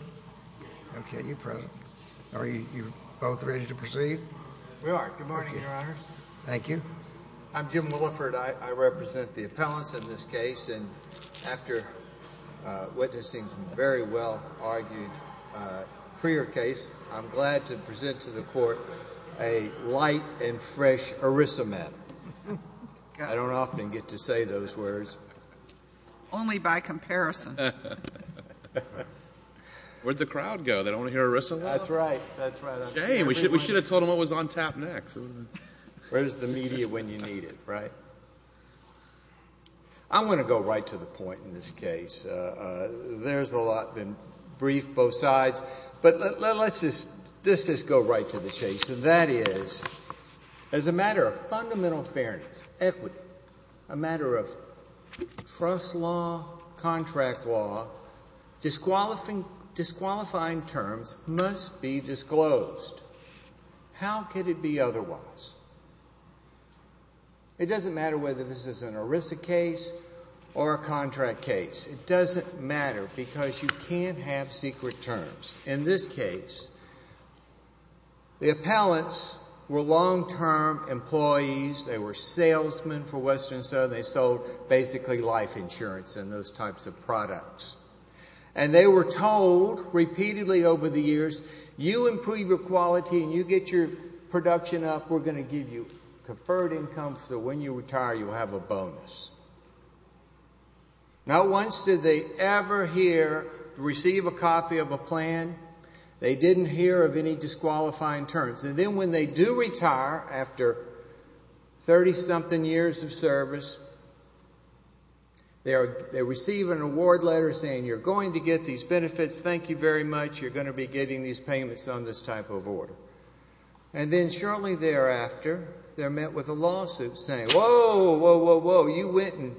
I represent the appellants in this case, and after witnessing some very well-argued career case, I'm glad to present to the Court a light and fresh erysomen. I don't want to hear erysomen. I'm going to go right to the point in this case. There's a lot been briefed both sides, but let's just go right to the chase, and that is, as a matter of fundamental fairness, equity, a matter of trust law, contract law, disqualifying terms must be disclosed. How could it be otherwise? It doesn't matter whether this is an ERISA case or a contract case. It doesn't matter because you can't have secret terms. In this case, the appellants were long-term employees. They were salesmen for Western & Southern. They sold basically life insurance and those types of products, and they were told repeatedly over the years, you improve your quality and you get your production up. We're going to give you conferred income, so when you retire, you have a bonus. Not once did they ever hear or receive a copy of a plan. They didn't hear of any disqualifying terms, and then when they do retire after 30-something years of service, they receive an award letter saying you're going to get these benefits. Thank you very much. You're going to be getting these payments on this type of order, and then shortly thereafter, they're met with a lawsuit saying, whoa, whoa, whoa, whoa, you went and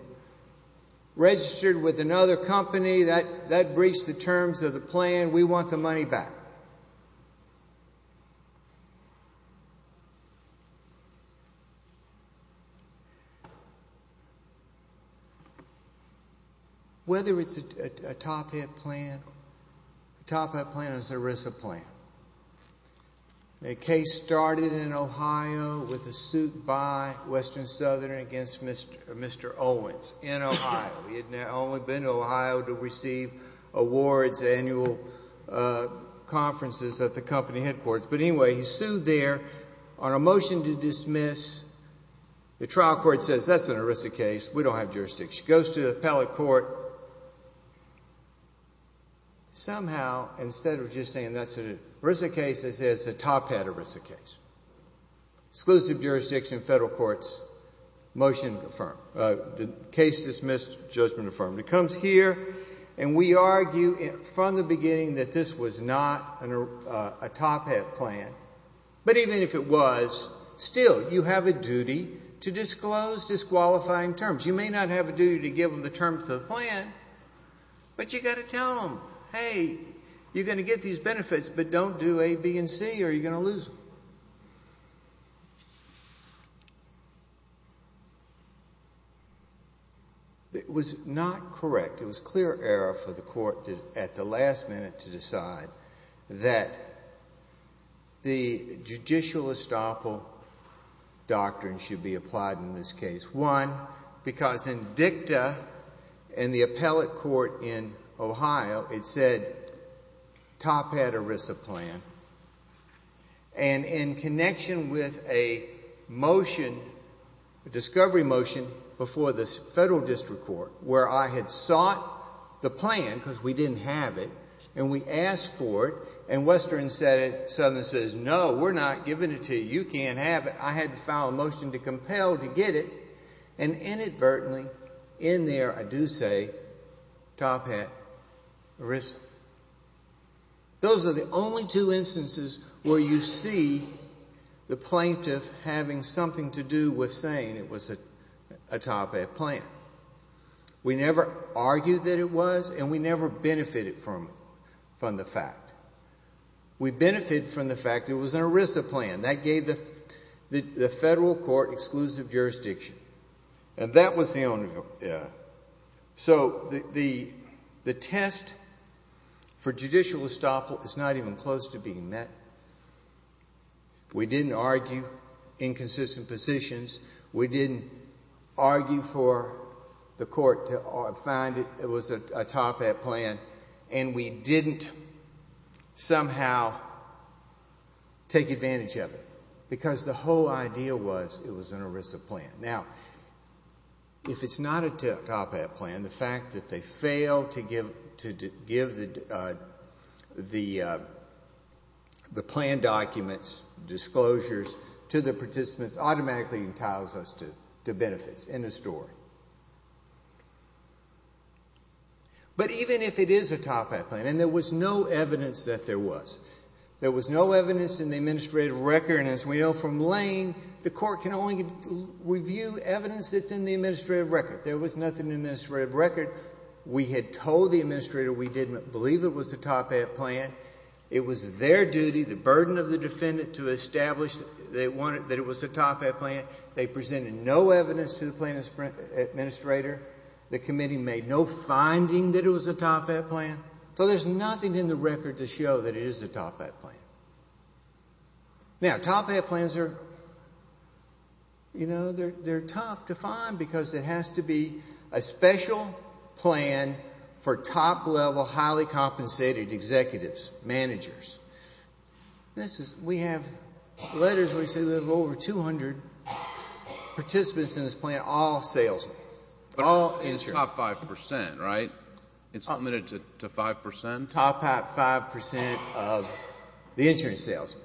registered with another company that breached the terms of the plan. We want the money back. Whether it's a top-hit plan, a top-hit plan is an ERISA plan. The case started in Ohio with a suit by Western & Southern against Mr. Owens in Ohio. He had only been to Ohio to receive awards, annual conferences at the company headquarters, but anyway, he's sued there on a motion to dismiss. The trial court says that's an ERISA case. We don't have jurisdiction. He goes to the appellate court. Somehow, instead of just saying that's an ERISA case, they say it's a top-hit ERISA case. Exclusive jurisdiction, federal courts, motion to confirm. Case dismissed, judgment affirmed. It comes here, and we argue from the beginning that this was not a top-hit plan, but even if it was, still, you have a duty to disclose disqualifying terms. You may not have a duty to give them the terms of the plan, but you've got to tell them, hey, you're going to get these benefits, but don't do A, B, and C, or you're going to lose them. It was not correct. It was clear error for the court at the last minute to decide that the judicial estoppel doctrine should be applied in this case. One, because in dicta in the appellate court in Ohio, it said top-hat ERISA plan, and in connection with a motion, a discovery motion, before the federal district court, where I had sought the plan, because we didn't have it, and we asked for it, and Western said it, Southern says, no, we're not giving it to you. You can't have it. I had to file a motion to compel to get it, and inadvertently, in there, I do say top-hat ERISA. Those are the only two instances where you see the plaintiff having something to do with saying it was a top-hat plan. We never argued that it was, and we never benefited from the fact. We benefited from the fact it was an ERISA plan. That gave the federal court exclusive jurisdiction, and that was the only. So the test for judicial estoppel is not even close to being met. We didn't argue inconsistent positions. We didn't argue for the court to find it was a top-hat plan, and we didn't somehow take advantage of it, because the whole idea was it was an ERISA plan. Now, if it's not a top-hat plan, the fact that they failed to give the plan documents, disclosures, to the participants, automatically entitles us to benefits, end of story. But even if it is a top-hat plan, and there was no evidence that there was, there was no evidence in the administrative record, and as we know from Lane, the court can only review evidence that's in the administrative record. There was nothing in the administrative record. We had told the administrator we didn't believe it was a top-hat plan. It was their duty, the burden of the defendant, to establish that it was a top-hat plan. They presented no evidence to the plan administrator. The committee made no finding that it was a top-hat plan. So there's nothing in the record to show that it is a top-hat plan. Now, top-hat plans are, you know, they're tough to find because it has to be a special plan for top-level, all salesmen, all insurance. But it's top 5%, right? It's limited to 5%? Top-hat 5% of the insurance salesmen,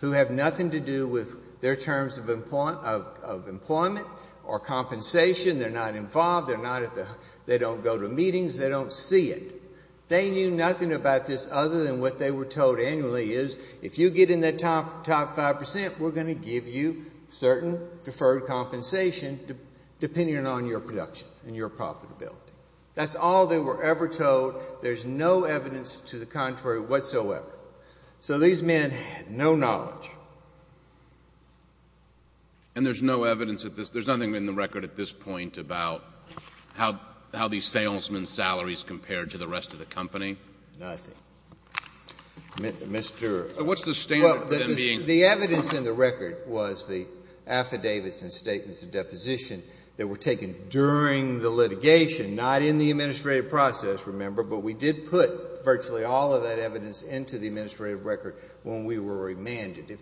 who have nothing to do with their terms of employment or compensation. They're not involved. They're not at the, they don't go to meetings. They don't see it. They knew nothing about this other than what they were told annually is if you get in that top 5%, we're going to give you certain deferred compensation depending on your production and your profitability. That's all they were ever told. There's no evidence to the contrary whatsoever. So these men had no knowledge. And there's no evidence at this, there's nothing in the record at this point about how these salesmen's salaries compared to the rest of the company? Nothing. Mr. What's the standard for them being? Well, the evidence in the record was the affidavits and statements of deposition that were taken during the litigation, not in the administrative process, remember, but we did put virtually all of that evidence into the administrative record when we were remanded.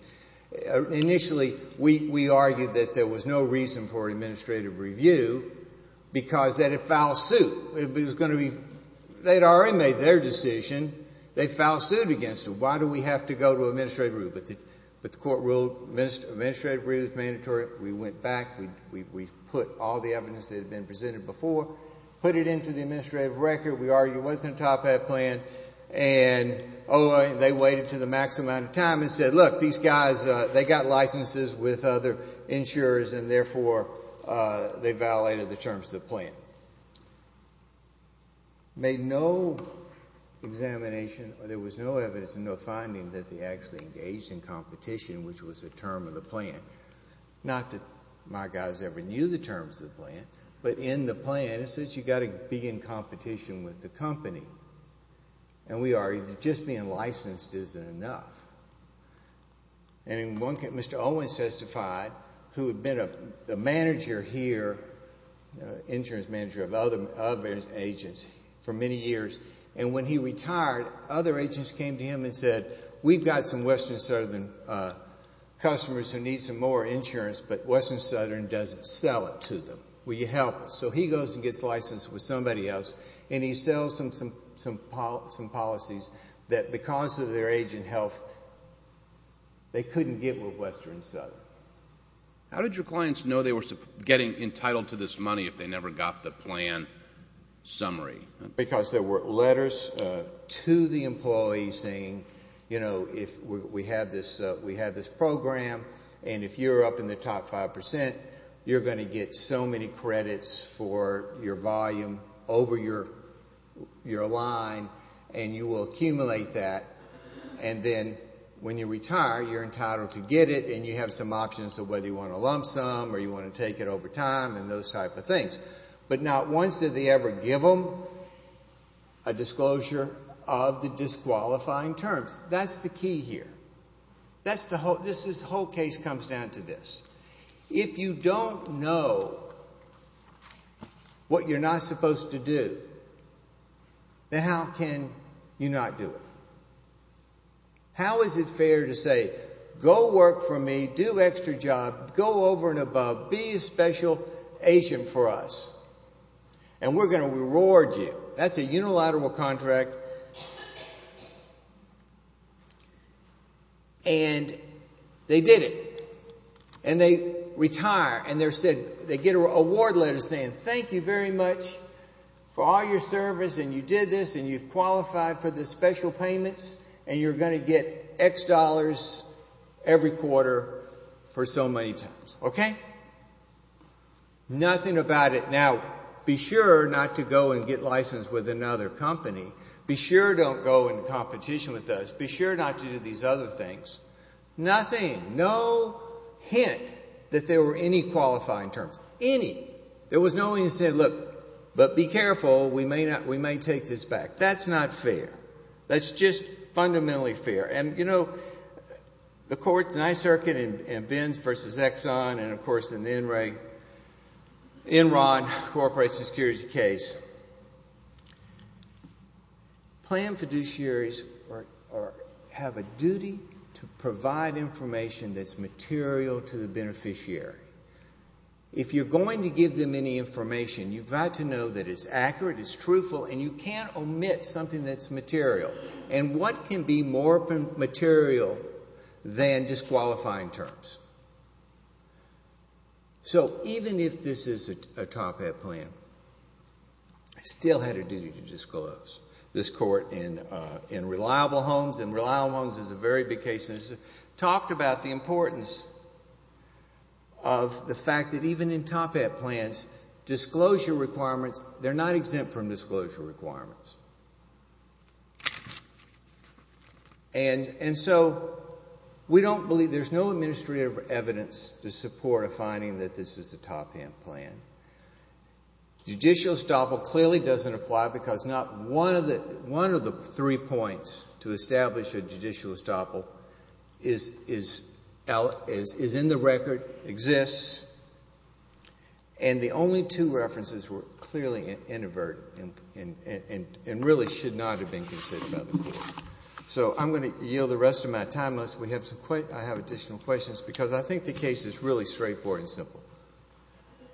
Initially, we argued that there was no reason for administrative review because that'd foul suit. It was going to be, they'd already made their decision. They'd foul sued against them. Why do we have to go to administrative review? But the court ruled administrative review was mandatory. We went back. We put all the evidence that had been presented before, put it into the administrative record. We argued it wasn't a top hat plan. And they waited to the max amount of time and said, look, these guys, they got licenses with other insurers and therefore they violated the terms of the plan. Made no examination, there was no evidence and no finding that they actually engaged in competition, which was a term of the plan. Not that my guys ever knew the terms of the plan, but in the plan it says you've got to be in competition with the company. And we argued that just being licensed isn't enough. And in one case, Mr. Owens testified, who had been a manager here, insurance manager of other agents for many years. And when he retired, other agents came to him and said, we've got some Western Southern customers who need some more insurance, but Western Southern doesn't sell it to them. Will you help us? So he goes and gets licensed with somebody else and he sells them some policies that because of their age and health, they couldn't get with Western Southern. How did your clients know they were getting entitled to this money if they never got the plan summary? Because there were letters to the employees saying, you know, we have this program and if you're up in the top 5%, you're going to get so many credits for your volume over your line and you will accumulate that. And then when you retire, you're entitled to get it and you have some options of whether you want to lump some or you want to take it over time and those type of things. But not once did they ever give them a disclosure of the disqualifying terms. That's the key here. This whole case comes down to this. If you don't know what you're not supposed to do, then how can you not do it? How is it fair to say, go work for me, do extra job, go over and above, be a special agent for us, and we're going to reward you? That's a unilateral contract. And they did it. And they retire and they get an award letter saying, thank you very much for all your service and you did this and you've qualified for the special payments and you're going to get X dollars every quarter for so many times. Okay? Nothing about it. Now, be sure not to go and get licensed with another company. Be sure don't go in competition with us. Be sure not to do these other things. Nothing, no hint that there were any qualifying terms. Any. There was no way to say, look, but be careful, we may take this back. That's not fair. That's just fundamentally fair. And, you know, the court, the Ninth Circuit, and Bins v. Exxon and, of course, in the Enron Corporation Security case, planned to have a duty to provide information that's material to the beneficiary. If you're going to give them any information, you've got to know that it's accurate, it's truthful, and you can't omit something that's material. And what can be more material than disqualifying terms? So even if this is a top-hat plan, I still had a duty to talk about the importance of the fact that even in top-hat plans, disclosure requirements, they're not exempt from disclosure requirements. And so we don't believe there's no administrative evidence to support a finding that this is a top-hat plan. Judicial estoppel clearly doesn't apply because not one of the three points to establish a judicial estoppel is in the record, exists, and the only two references were clearly inadvertent and really should not have been considered by the court. So I'm going to yield the rest of my time, unless I have additional questions, because I think the case is really straightforward and simple.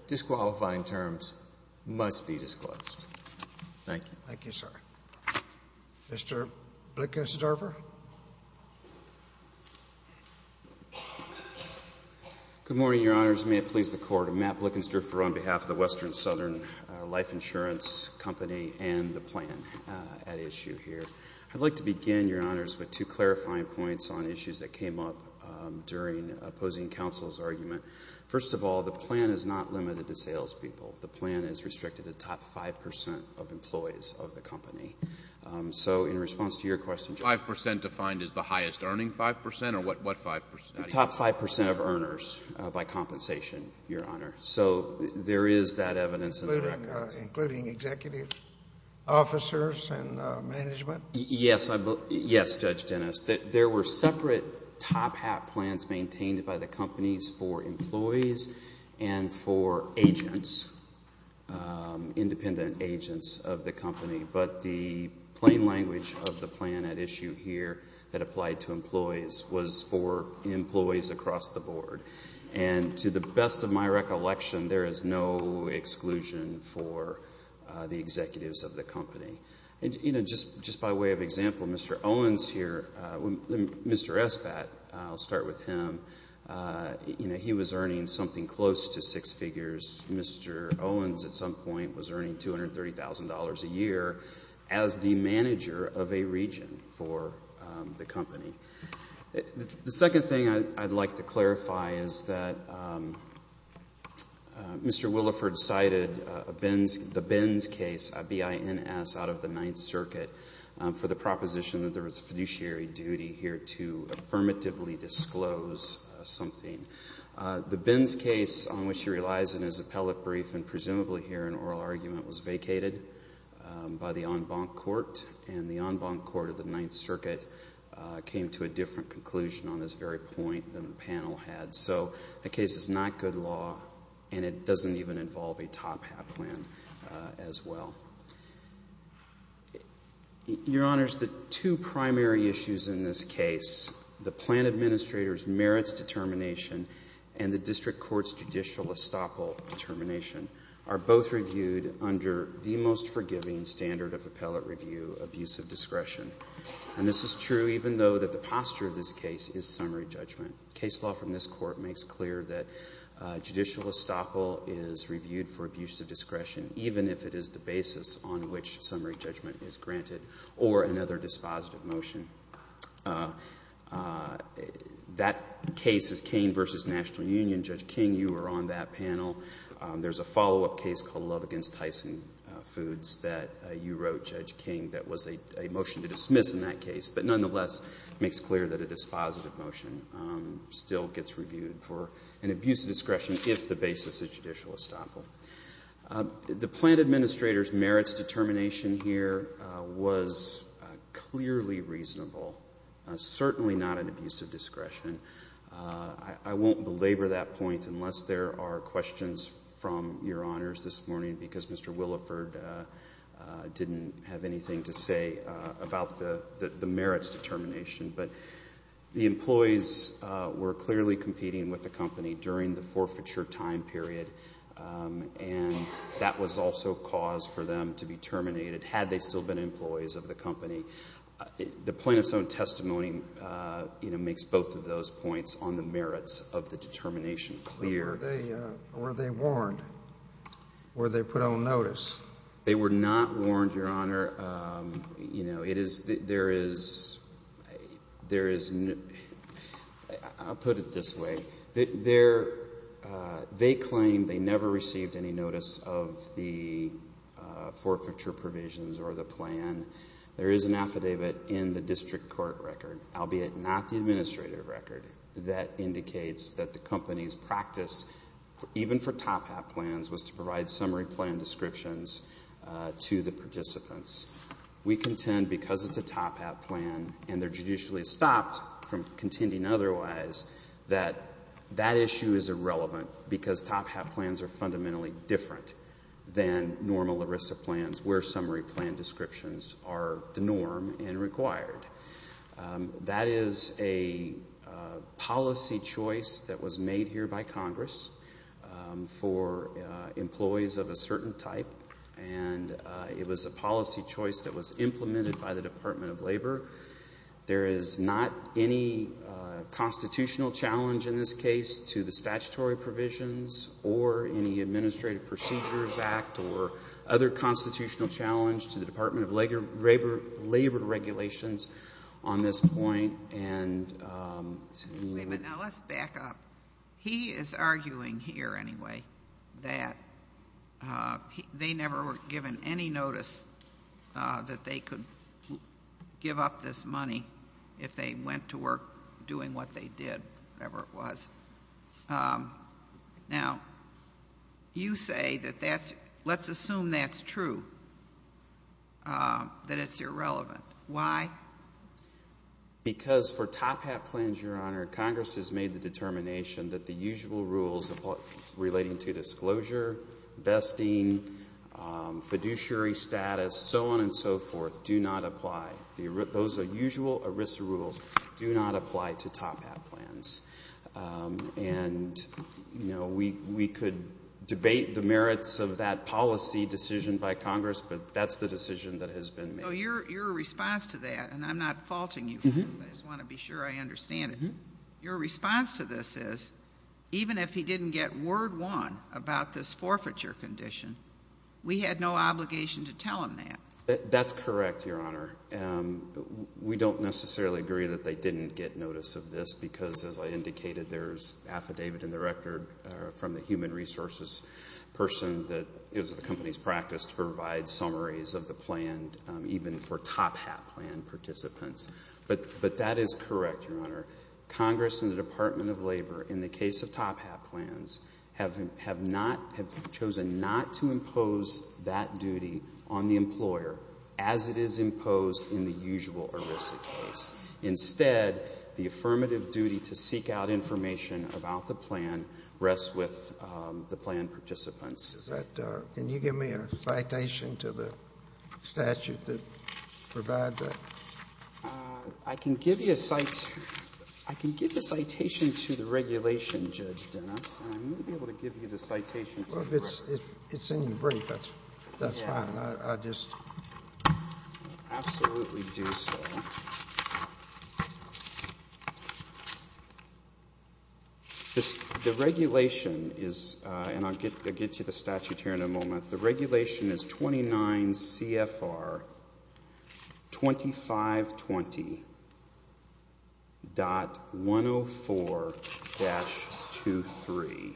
Disqualifying terms must be disclosed. Thank you. Thank you, sir. Mr. Blickensterfer? Good morning, Your Honors. May it please the Court, I'm Matt Blickensterfer on behalf of the Western Southern Life Insurance Company and the plan at issue here. I'd like to begin, Your Honors, with two clarifying points on issues that came up during opposing counsel's argument. First of all, the plan is not limited to salespeople. The plan is So in response to your question, Judge. 5 percent defined as the highest earning 5 percent, or what 5 percent? The top 5 percent of earners by compensation, Your Honor. So there is that evidence in the records. Including executive officers and management? Yes. Yes, Judge Dennis. There were separate top-hat plans maintained by the companies for employees and for agents, independent agents of the company. But the plain language of the plan at issue here that applied to employees was for employees across the board. And to the best of my recollection, there is no exclusion for the executives of the company. Just by way of example, Mr. Owens here, Mr. Espat, I'll start with him. He was earning something close to six figures. Mr. Owens at some point was earning $230,000 a year as the manager of a region for the company. The second thing I'd like to clarify is that Mr. Williford cited the Benz case, B-I-N-S, out of the Ninth Circuit for the proposition that there was a fiduciary duty here to affirmatively disclose something. The Benz case, on which he relies in his appellate brief and presumably here in oral argument, was vacated by the en banc court. And the en banc court of the Ninth Circuit came to a different conclusion on this very point than the panel had. So a case is not good law, and it doesn't even involve a top-hat plan as well. Your Honors, the two primary issues in this case, the plan administrator's merits determination and the district court's judicial estoppel determination, are both reviewed under the most forgiving standard of appellate review, abuse of discretion. And this is true even though the posture of this case is summary judgment. Case law from this case makes it clear that judicial estoppel is reviewed for abuse of discretion, even if it is the basis on which summary judgment is granted, or another dispositive motion. That case is Kane v. National Union. Judge King, you were on that panel. There's a follow-up case called Love Against Tyson Foods that you wrote, Judge King, that was a motion to dismiss in that case. But nonetheless, it makes clear that a dispositive motion still gets reviewed for an abuse of discretion if the basis is judicial estoppel. The plan administrator's merits determination here was clearly reasonable, certainly not an abuse of discretion. I won't belabor that point unless there are questions from Your Honors this morning, because Mr. Williford didn't have anything to say about the merits determination. But the employees were clearly competing with the company during the forfeiture time period, and that was also cause for them to be terminated, had they still been employees of the company. The plaintiff's own testimony, you know, makes both of those points on the merits of the determination clear. Were they warned? Were they put on notice? They were not warned, Your Honor. You know, it is, there is, there is, I'll put it this way. They're, they claim they never received any notice of the forfeiture provisions or the plan. There is an affidavit in the district court record, albeit not the administrative record, that indicates that the company's practice, even for summary plan descriptions, to the participants. We contend because it's a top-hat plan, and they're judicially stopped from contending otherwise, that that issue is irrelevant because top-hat plans are fundamentally different than normal ERISA plans where summary plan descriptions are the norm and required. That is a policy choice that was made here by Congress for employees of a certain type, and it was a policy choice that was implemented by the Department of Labor. There is not any constitutional challenge in this case to the statutory provisions or any Administrative Procedures Act or other constitutional challenge to the Department of Labor regulations on this point. Wait a minute. Now, let's back up. He is arguing here, anyway, that they never were given any notice that they could give up this money if they went to work doing what they did, whatever it was. Now, you say that that's, let's assume that's true, that it's irrelevant. Why? Because for top-hat plans, Your Honor, Congress has made the determination that the usual rules relating to disclosure, vesting, fiduciary status, so on and so forth, do not apply. Those usual ERISA rules do not apply to top-hat plans. And, you know, we could debate the merits of that policy decision by Congress, but that's the decision that has been made. So your response to that, and I'm not faulting you. I just want to be sure I understand it. Your response to this is, even if he didn't get word won about this forfeiture condition, we had no obligation to tell him that. That's correct, Your Honor. We don't necessarily agree that they didn't get notice of this because, as I indicated, there's affidavit in the record from the human resources person that is at the company's practice to provide summaries of the plan, even for top-hat plan participants. But that is correct, Your Honor. Congress and the Department of Labor, in the case of top-hat plans, have not, have chosen not to impose that duty on the employer as it is imposed in the usual ERISA case. Instead, the affirmative duty to seek out information about the plan rests with the plan participants. Can you give me a citation to the statute that provides that? I can give you a citation to the regulation, Judge Dennis, and I may be able to give you the citation. Well, if it's any brief, that's fine. I just... The regulation is, and I'll get you the statute here in a moment, the regulation is 29 CFR 2520.104-23.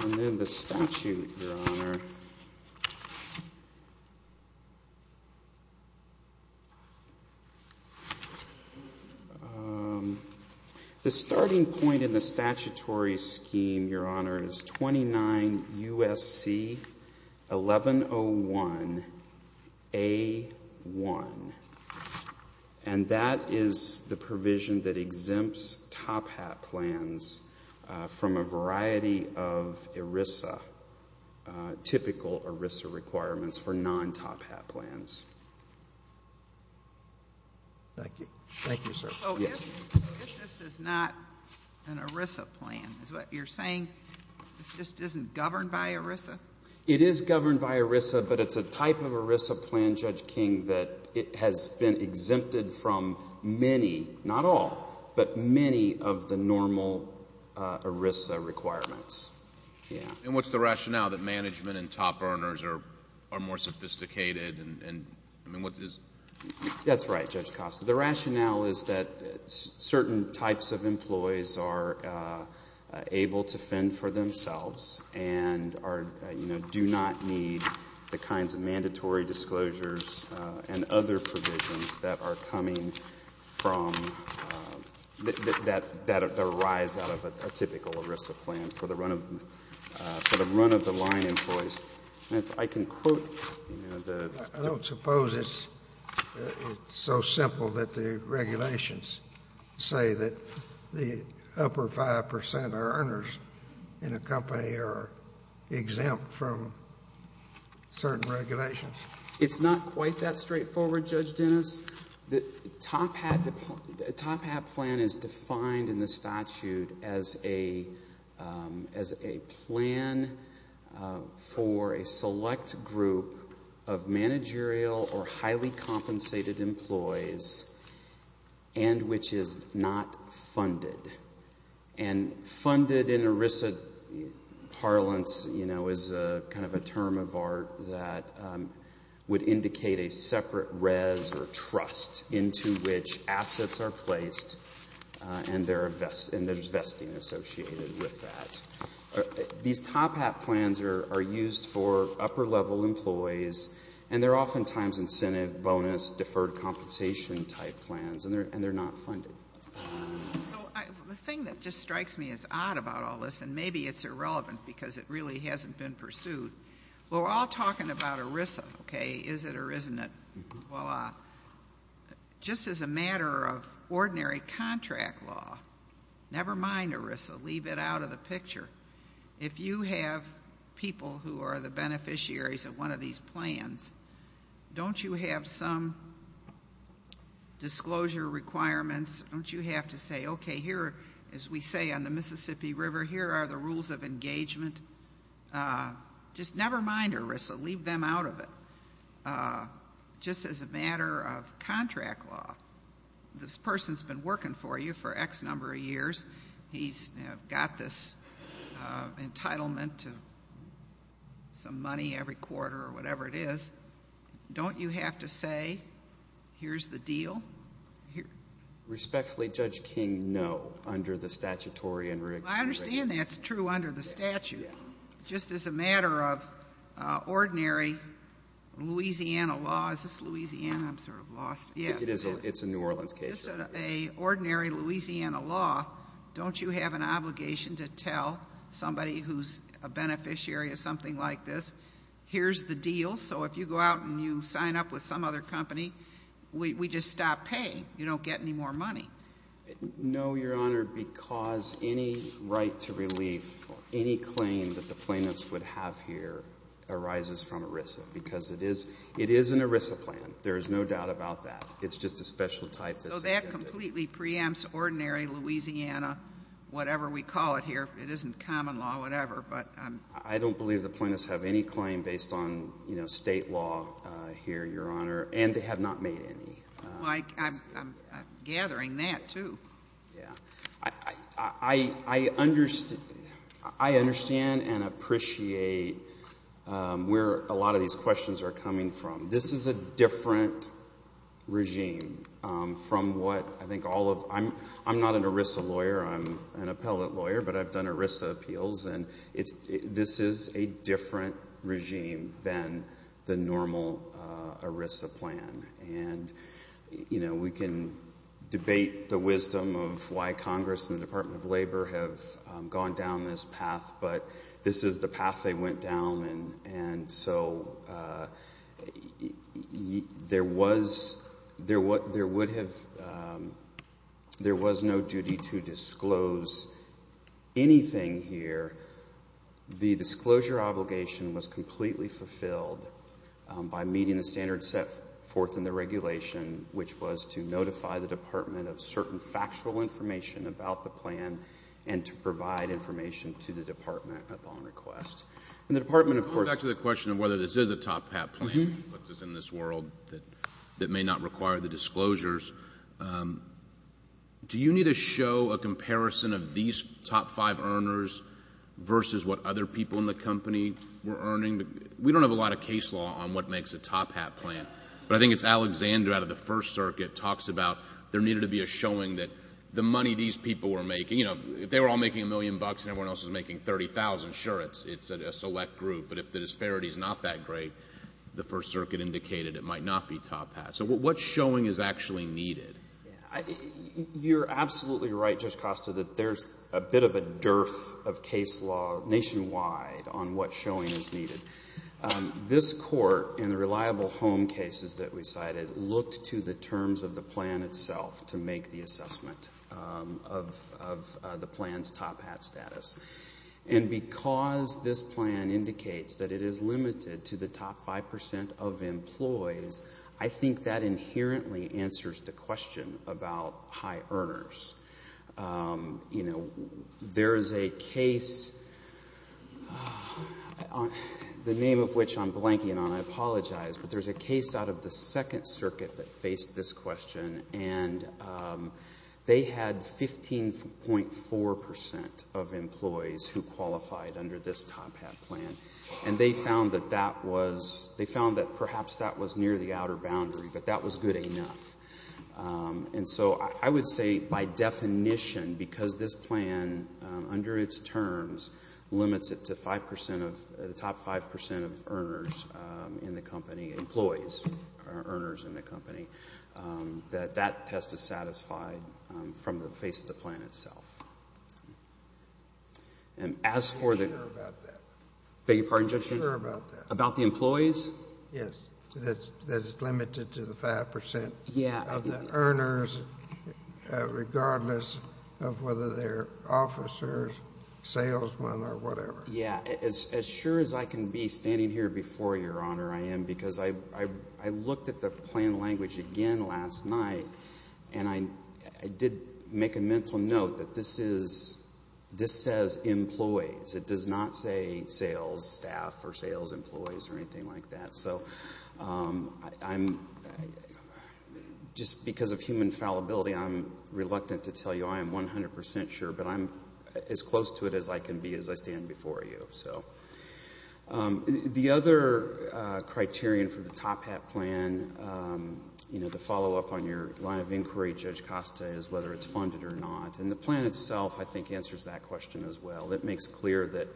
And then the statute, Your Honor... The starting point in the statutory scheme, Your Honor, is 29 U.S.C. 1101A1. And that is the provision that exempts top-hat plans from a variety of ERISA, typical ERISA requirements for non-top-hat plans. Thank you. Thank you, sir. So if this is not an ERISA plan, is what you're saying, this just isn't governed by ERISA? It is governed by ERISA, but it's a type of ERISA plan, Judge King, that it has been exempted from many, not all, but many of the normal ERISA requirements. And what's the rationale that management and top earners are more sophisticated? That's right, Judge Costa. The rationale is that certain types of employees are able to fend for themselves and do not need the kinds of mandatory disclosures and other provisions that are coming from that arise out of a typical ERISA plan for the run-of-the-line employees. And if I can quote the... I don't suppose it's so simple that the regulations say that the upper 5 percent of earners in a company are exempt from certain regulations. It's not quite that straightforward, Judge Dennis. The top-hat plan is defined in the statute as a plan for a select group of managerial or highly compensated employees and which is not funded. And funded in ERISA parlance is kind of a term of art that would indicate a separate res or trust into which assets are placed and there's vesting associated with that. These top-hat plans are used for upper-level employees and they're oftentimes incentive bonus deferred compensation type plans and they're not funded. The thing that just strikes me as odd about all this, and maybe it's irrelevant because it really hasn't been pursued, we're all talking about ERISA, okay, is it or isn't it? Well, just as a matter of ordinary contract law, never mind ERISA, leave it out of the picture. If you have people who are the beneficiaries of one of these plans, don't you have some say, okay, here, as we say on the Mississippi River, here are the rules of engagement. Just never mind ERISA, leave them out of it. Just as a matter of contract law, this person's been working for you for X number of years. He's got this entitlement to some money every quarter or whatever it is. Don't you have to say here's the deal? Respectfully, Judge King, no, under the statutory and regulatory. I understand that's true under the statute. Yeah. Just as a matter of ordinary Louisiana law, is this Louisiana? I'm sort of lost. Yes. It's a New Orleans case. Just as an ordinary Louisiana law, don't you have an obligation to tell somebody who's a beneficiary of something like this, here's the deal, so if you go out and you sign up with some other company, we just stop paying. You don't get any more money. No, Your Honor, because any right to relief, any claim that the plaintiffs would have here arises from ERISA because it is an ERISA plan. There is no doubt about that. It's just a special type. So that completely preempts ordinary Louisiana, whatever we call it here. It isn't common law, whatever. I don't believe the plaintiffs have any claim based on State law here, Your Honor, and they have not made any. I'm gathering that, too. Yeah. I understand and appreciate where a lot of these questions are coming from. This is a different regime from what I think all of — I'm not an ERISA lawyer. I'm an appellate lawyer, but I've done ERISA appeals, and this is a different regime than the normal ERISA plan. And, you know, we can debate the wisdom of why Congress and the Department of Labor have gone down this path, but this is the path they went down, and so there was no duty to disclose anything here. The disclosure obligation was completely fulfilled by meeting the standards set forth in the regulation, which was to notify the department of certain factual information about the plan and to provide information to the department upon request. And the department, of course— Going back to the question of whether this is a top hat plan, which is in this world that may not require the disclosures, do you need to show a comparison of these top five earners versus what other people in the company were earning? We don't have a lot of case law on what makes a top hat plan, but I think it's Alexander out of the First Circuit talks about there needed to be a showing that the money these people were making — you know, if they were all making a million bucks and everyone else was making $30,000, sure, it's a select group. But if the disparity is not that great, the First Circuit indicated it might not be top hat. So what showing is actually needed? You're absolutely right, Judge Costa, that there's a bit of a dearth of case law nationwide on what showing is needed. This court, in the reliable home cases that we cited, looked to the terms of the plan itself to make the assessment of the plan's top hat status. And because this plan indicates that it is limited to the top 5% of employees, I think that inherently answers the question about high earners. You know, there is a case, the name of which I'm blanking on, I apologize, but there's a case out of the Second Circuit that faced this question, and they had 15.4% of employees who qualified under this top hat plan. And they found that that was — they found that perhaps that was near the outer boundary, but that was good enough. And so I would say, by definition, because this plan, under its terms, limits it to 5% of — the top 5% of earners in the company, employees, or earners in the company, that that test is satisfied from the face of the plan itself. And as for the — I'm not sure about that. Beg your pardon, Judge? I'm not sure about that. About the employees? Yes, that it's limited to the 5%. Yeah. Of the earners, regardless of whether they're officers, salesmen, or whatever. Yeah. As sure as I can be standing here before you, Your Honor, I am, because I looked at the plan language again last night, and I did make a mental note that this is — this says employees. It does not say sales staff or sales employees or anything like that. So I'm — just because of human fallibility, I'm reluctant to tell you I am 100% sure, but I'm as close to it as I can be as I stand before you. So the other criterion for the Top Hat plan, you know, to follow up on your line of inquiry, Judge Costa, is whether it's funded or not. And the plan itself, I think, answers that question as well. It makes clear that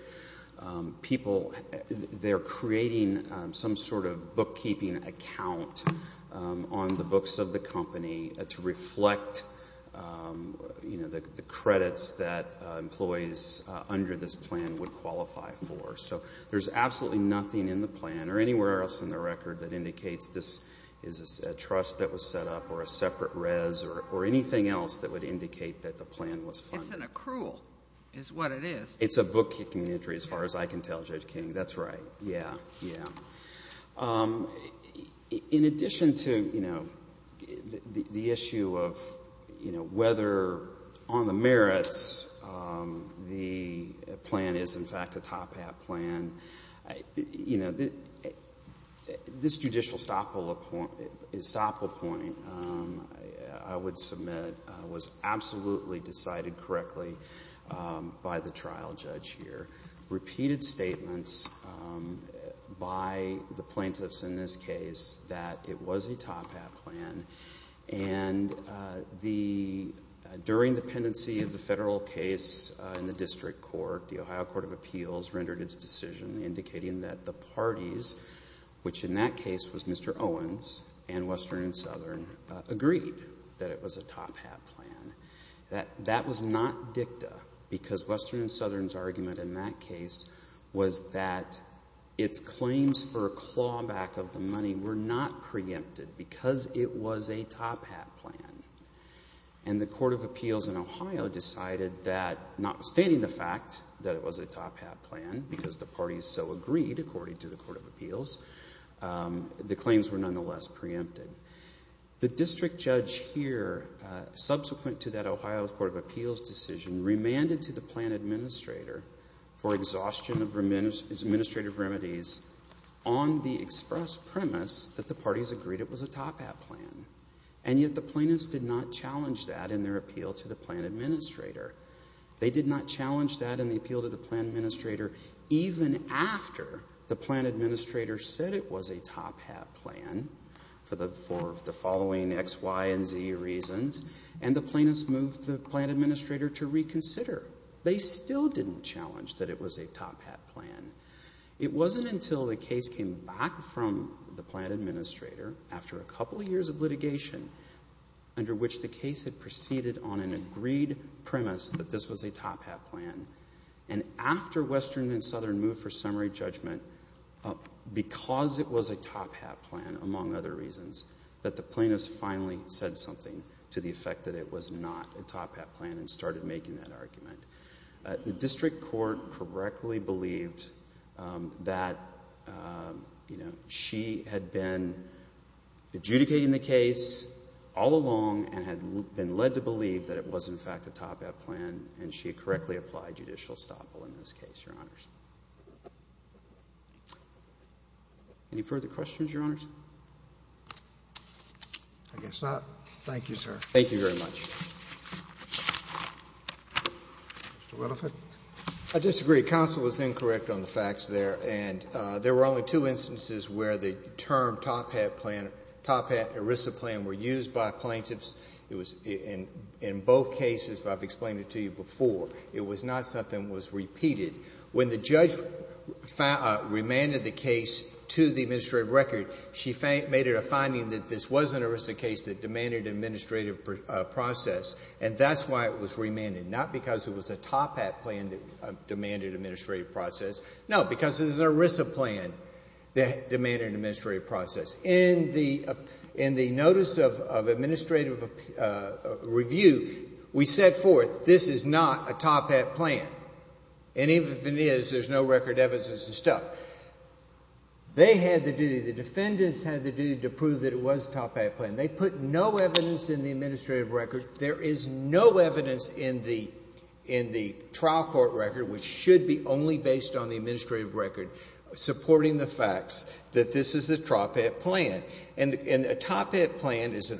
people, they're creating some sort of bookkeeping account on the books of the company to reflect, you know, the credits that employees under this plan would qualify for. So there's absolutely nothing in the plan or anywhere else in the record that indicates this is a trust that was set up or a separate res or anything else that would indicate that the plan was funded. It's an accrual is what it is. It's a bookkeeping entry as far as I can tell, Judge King. That's right. Yeah. Yeah. In addition to, you know, the issue of, you know, whether on the merits the plan is in fact a Top Hat plan, you know, this judicial estoppel point, I would submit, was absolutely decided correctly by the trial judge here. Repeated statements by the plaintiffs in this case that it was a Top Hat plan. And during the pendency of the federal case in the district court, the Ohio Court of Appeals rendered its decision indicating that the parties, which in that case was Mr. Owens and Western and Southern, agreed that it was a Top Hat plan. That was not dicta because Western and Southern's argument in that case was that its claims for a clawback of the money were not preempted because it was a Top Hat plan. And the Court of Appeals in Ohio decided that, notwithstanding the fact that it was a Top Hat plan because the parties so agreed according to the Court of Appeals, the claims were nonetheless preempted. The district judge here, subsequent to that Ohio Court of Appeals decision, remanded to the plan administrator for exhaustion of administrative remedies on the express premise that the parties agreed it was a Top Hat plan. And yet the plaintiffs did not challenge that in their appeal to the plan administrator. They did not challenge that in the appeal to the plan administrator even after the plan administrator said it was a Top Hat plan for the following X, Y, and Z reasons. And the plaintiffs moved the plan administrator to reconsider. They still didn't challenge that it was a Top Hat plan. It wasn't until the case came back from the plan administrator after a couple of years of litigation under which the case had proceeded on an agreed premise that this was a Top Hat plan and after Western and Southern moved for summary judgment because it was a Top Hat plan, among other reasons, that the plaintiffs finally said something to the effect that it was not a Top Hat plan and started making that argument. The district court correctly believed that she had been adjudicating the case all along and had been led to believe that it was in fact a Top Hat plan and she had correctly applied judicial estoppel in this case, Your Honors. Any further questions, Your Honors? I guess not. Thank you, sir. Thank you very much. Mr. Winifred. I disagree. Counsel was incorrect on the facts there. And there were only two instances where the term Top Hat plan, Top Hat ERISA plan were used by plaintiffs. It was in both cases, but I've explained it to you before. It was not something that was repeated. When the judge remanded the case to the administrative record, she made it a finding that this was an ERISA case that demanded administrative process, and that's why it was remanded, not because it was a Top Hat plan that demanded administrative process. No, because it was an ERISA plan that demanded administrative process. In the notice of administrative review, we set forth this is not a Top Hat plan. And even if it is, there's no record evidence of this stuff. They had the duty, the defendants had the duty to prove that it was a Top Hat plan. They put no evidence in the administrative record. There is no evidence in the trial court record, which should be only based on the administrative record, supporting the facts that this is a Top Hat plan. And a Top Hat plan is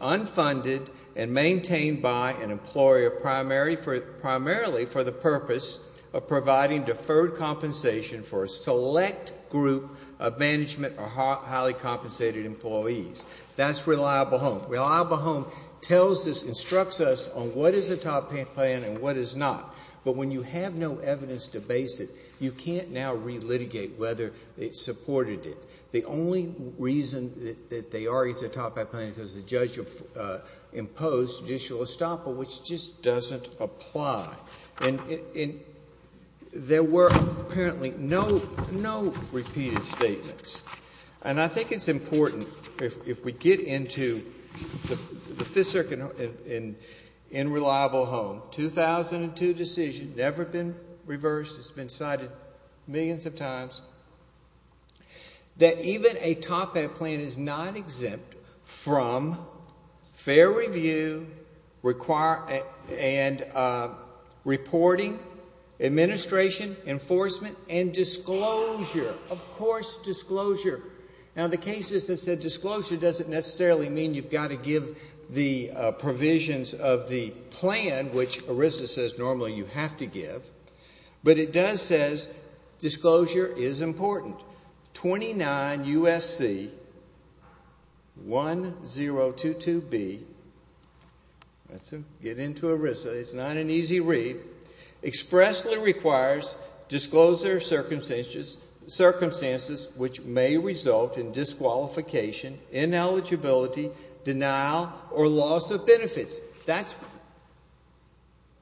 unfunded and maintained by an employer primarily for the purpose of providing deferred compensation for a select group of management or highly compensated employees. That's reliable home. Reliable home tells us, instructs us on what is a Top Hat plan and what is not. But when you have no evidence to base it, you can't now relitigate whether they supported it. The only reason that they argue it's a Top Hat plan is because the judge imposed judicial estoppel, which just doesn't apply. And there were apparently no repeated statements. And I think it's important, if we get into the Fifth Circuit in Reliable Home, 2002 decision, never been reversed. It's been cited millions of times, that even a Top Hat plan is not exempt from fair review and reporting, administration, enforcement, and disclosure. Of course, disclosure. Now, the cases that said disclosure doesn't necessarily mean you've got to give the provisions of the plan, which ERISA says normally you have to give. But it does say disclosure is important. 29 U.S.C. 1022B. Let's get into ERISA. It's not an easy read. Expressly requires disclosure of circumstances which may result in disqualification, ineligibility, denial, or loss of benefits. That's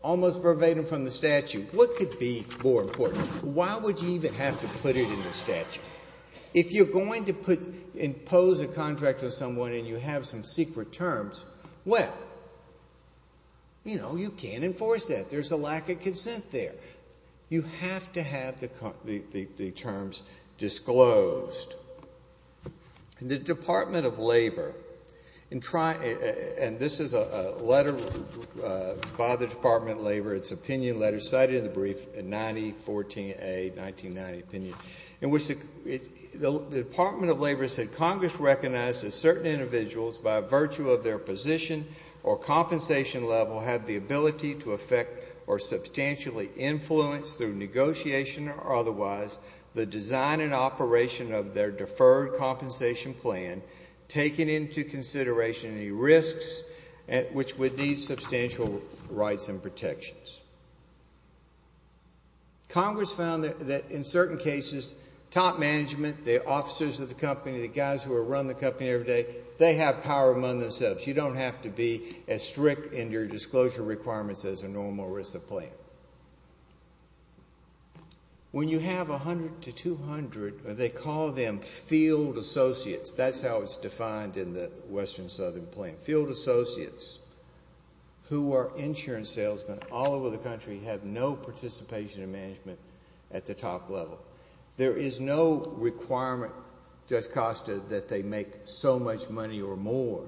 almost verbatim from the statute. What could be more important? Why would you even have to put it in the statute? If you're going to impose a contract on someone and you have some secret terms, well, you know, you can't enforce that. There's a lack of consent there. You have to have the terms disclosed. The Department of Labor, and this is a letter by the Department of Labor, it's an opinion letter cited in the brief in 9014A, 1990 opinion, in which the Department of Labor said, Congress recognizes certain individuals by virtue of their position or compensation level have the ability to affect or substantially influence through negotiation or otherwise the design and operation of their deferred compensation plan, taking into consideration any risks which would need substantial rights and protections. Congress found that in certain cases, top management, the officers of the company, the guys who run the company every day, they have power among themselves. You don't have to be as strict in your disclosure requirements as a normal ERISA plan. When you have 100 to 200, they call them field associates. That's how it's defined in the Western Southern plan. Field associates who are insurance salesmen all over the country have no participation in management at the top level. There is no requirement, just cost, that they make so much money or more.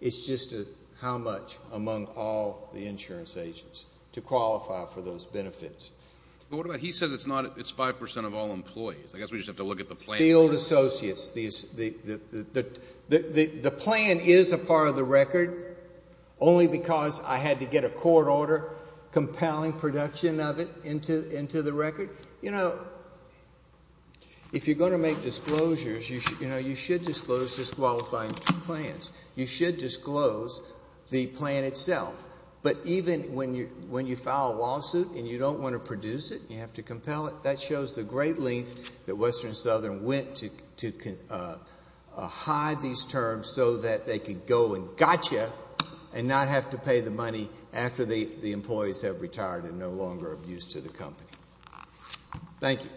It's just how much among all the insurance agents to qualify for those benefits. But what about he says it's 5 percent of all employees. I guess we just have to look at the plan first. Field associates. The plan is a part of the record only because I had to get a court order compelling production of it into the record. If you're going to make disclosures, you should disclose disqualifying plans. You should disclose the plan itself. But even when you file a lawsuit and you don't want to produce it, you have to compel it, that shows the great length that Western Southern went to hide these terms so that they could go and got you and not have to pay the money after the employees have retired and no longer of use to the company. Thank you.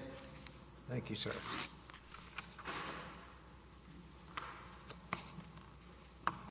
Thank you, sir.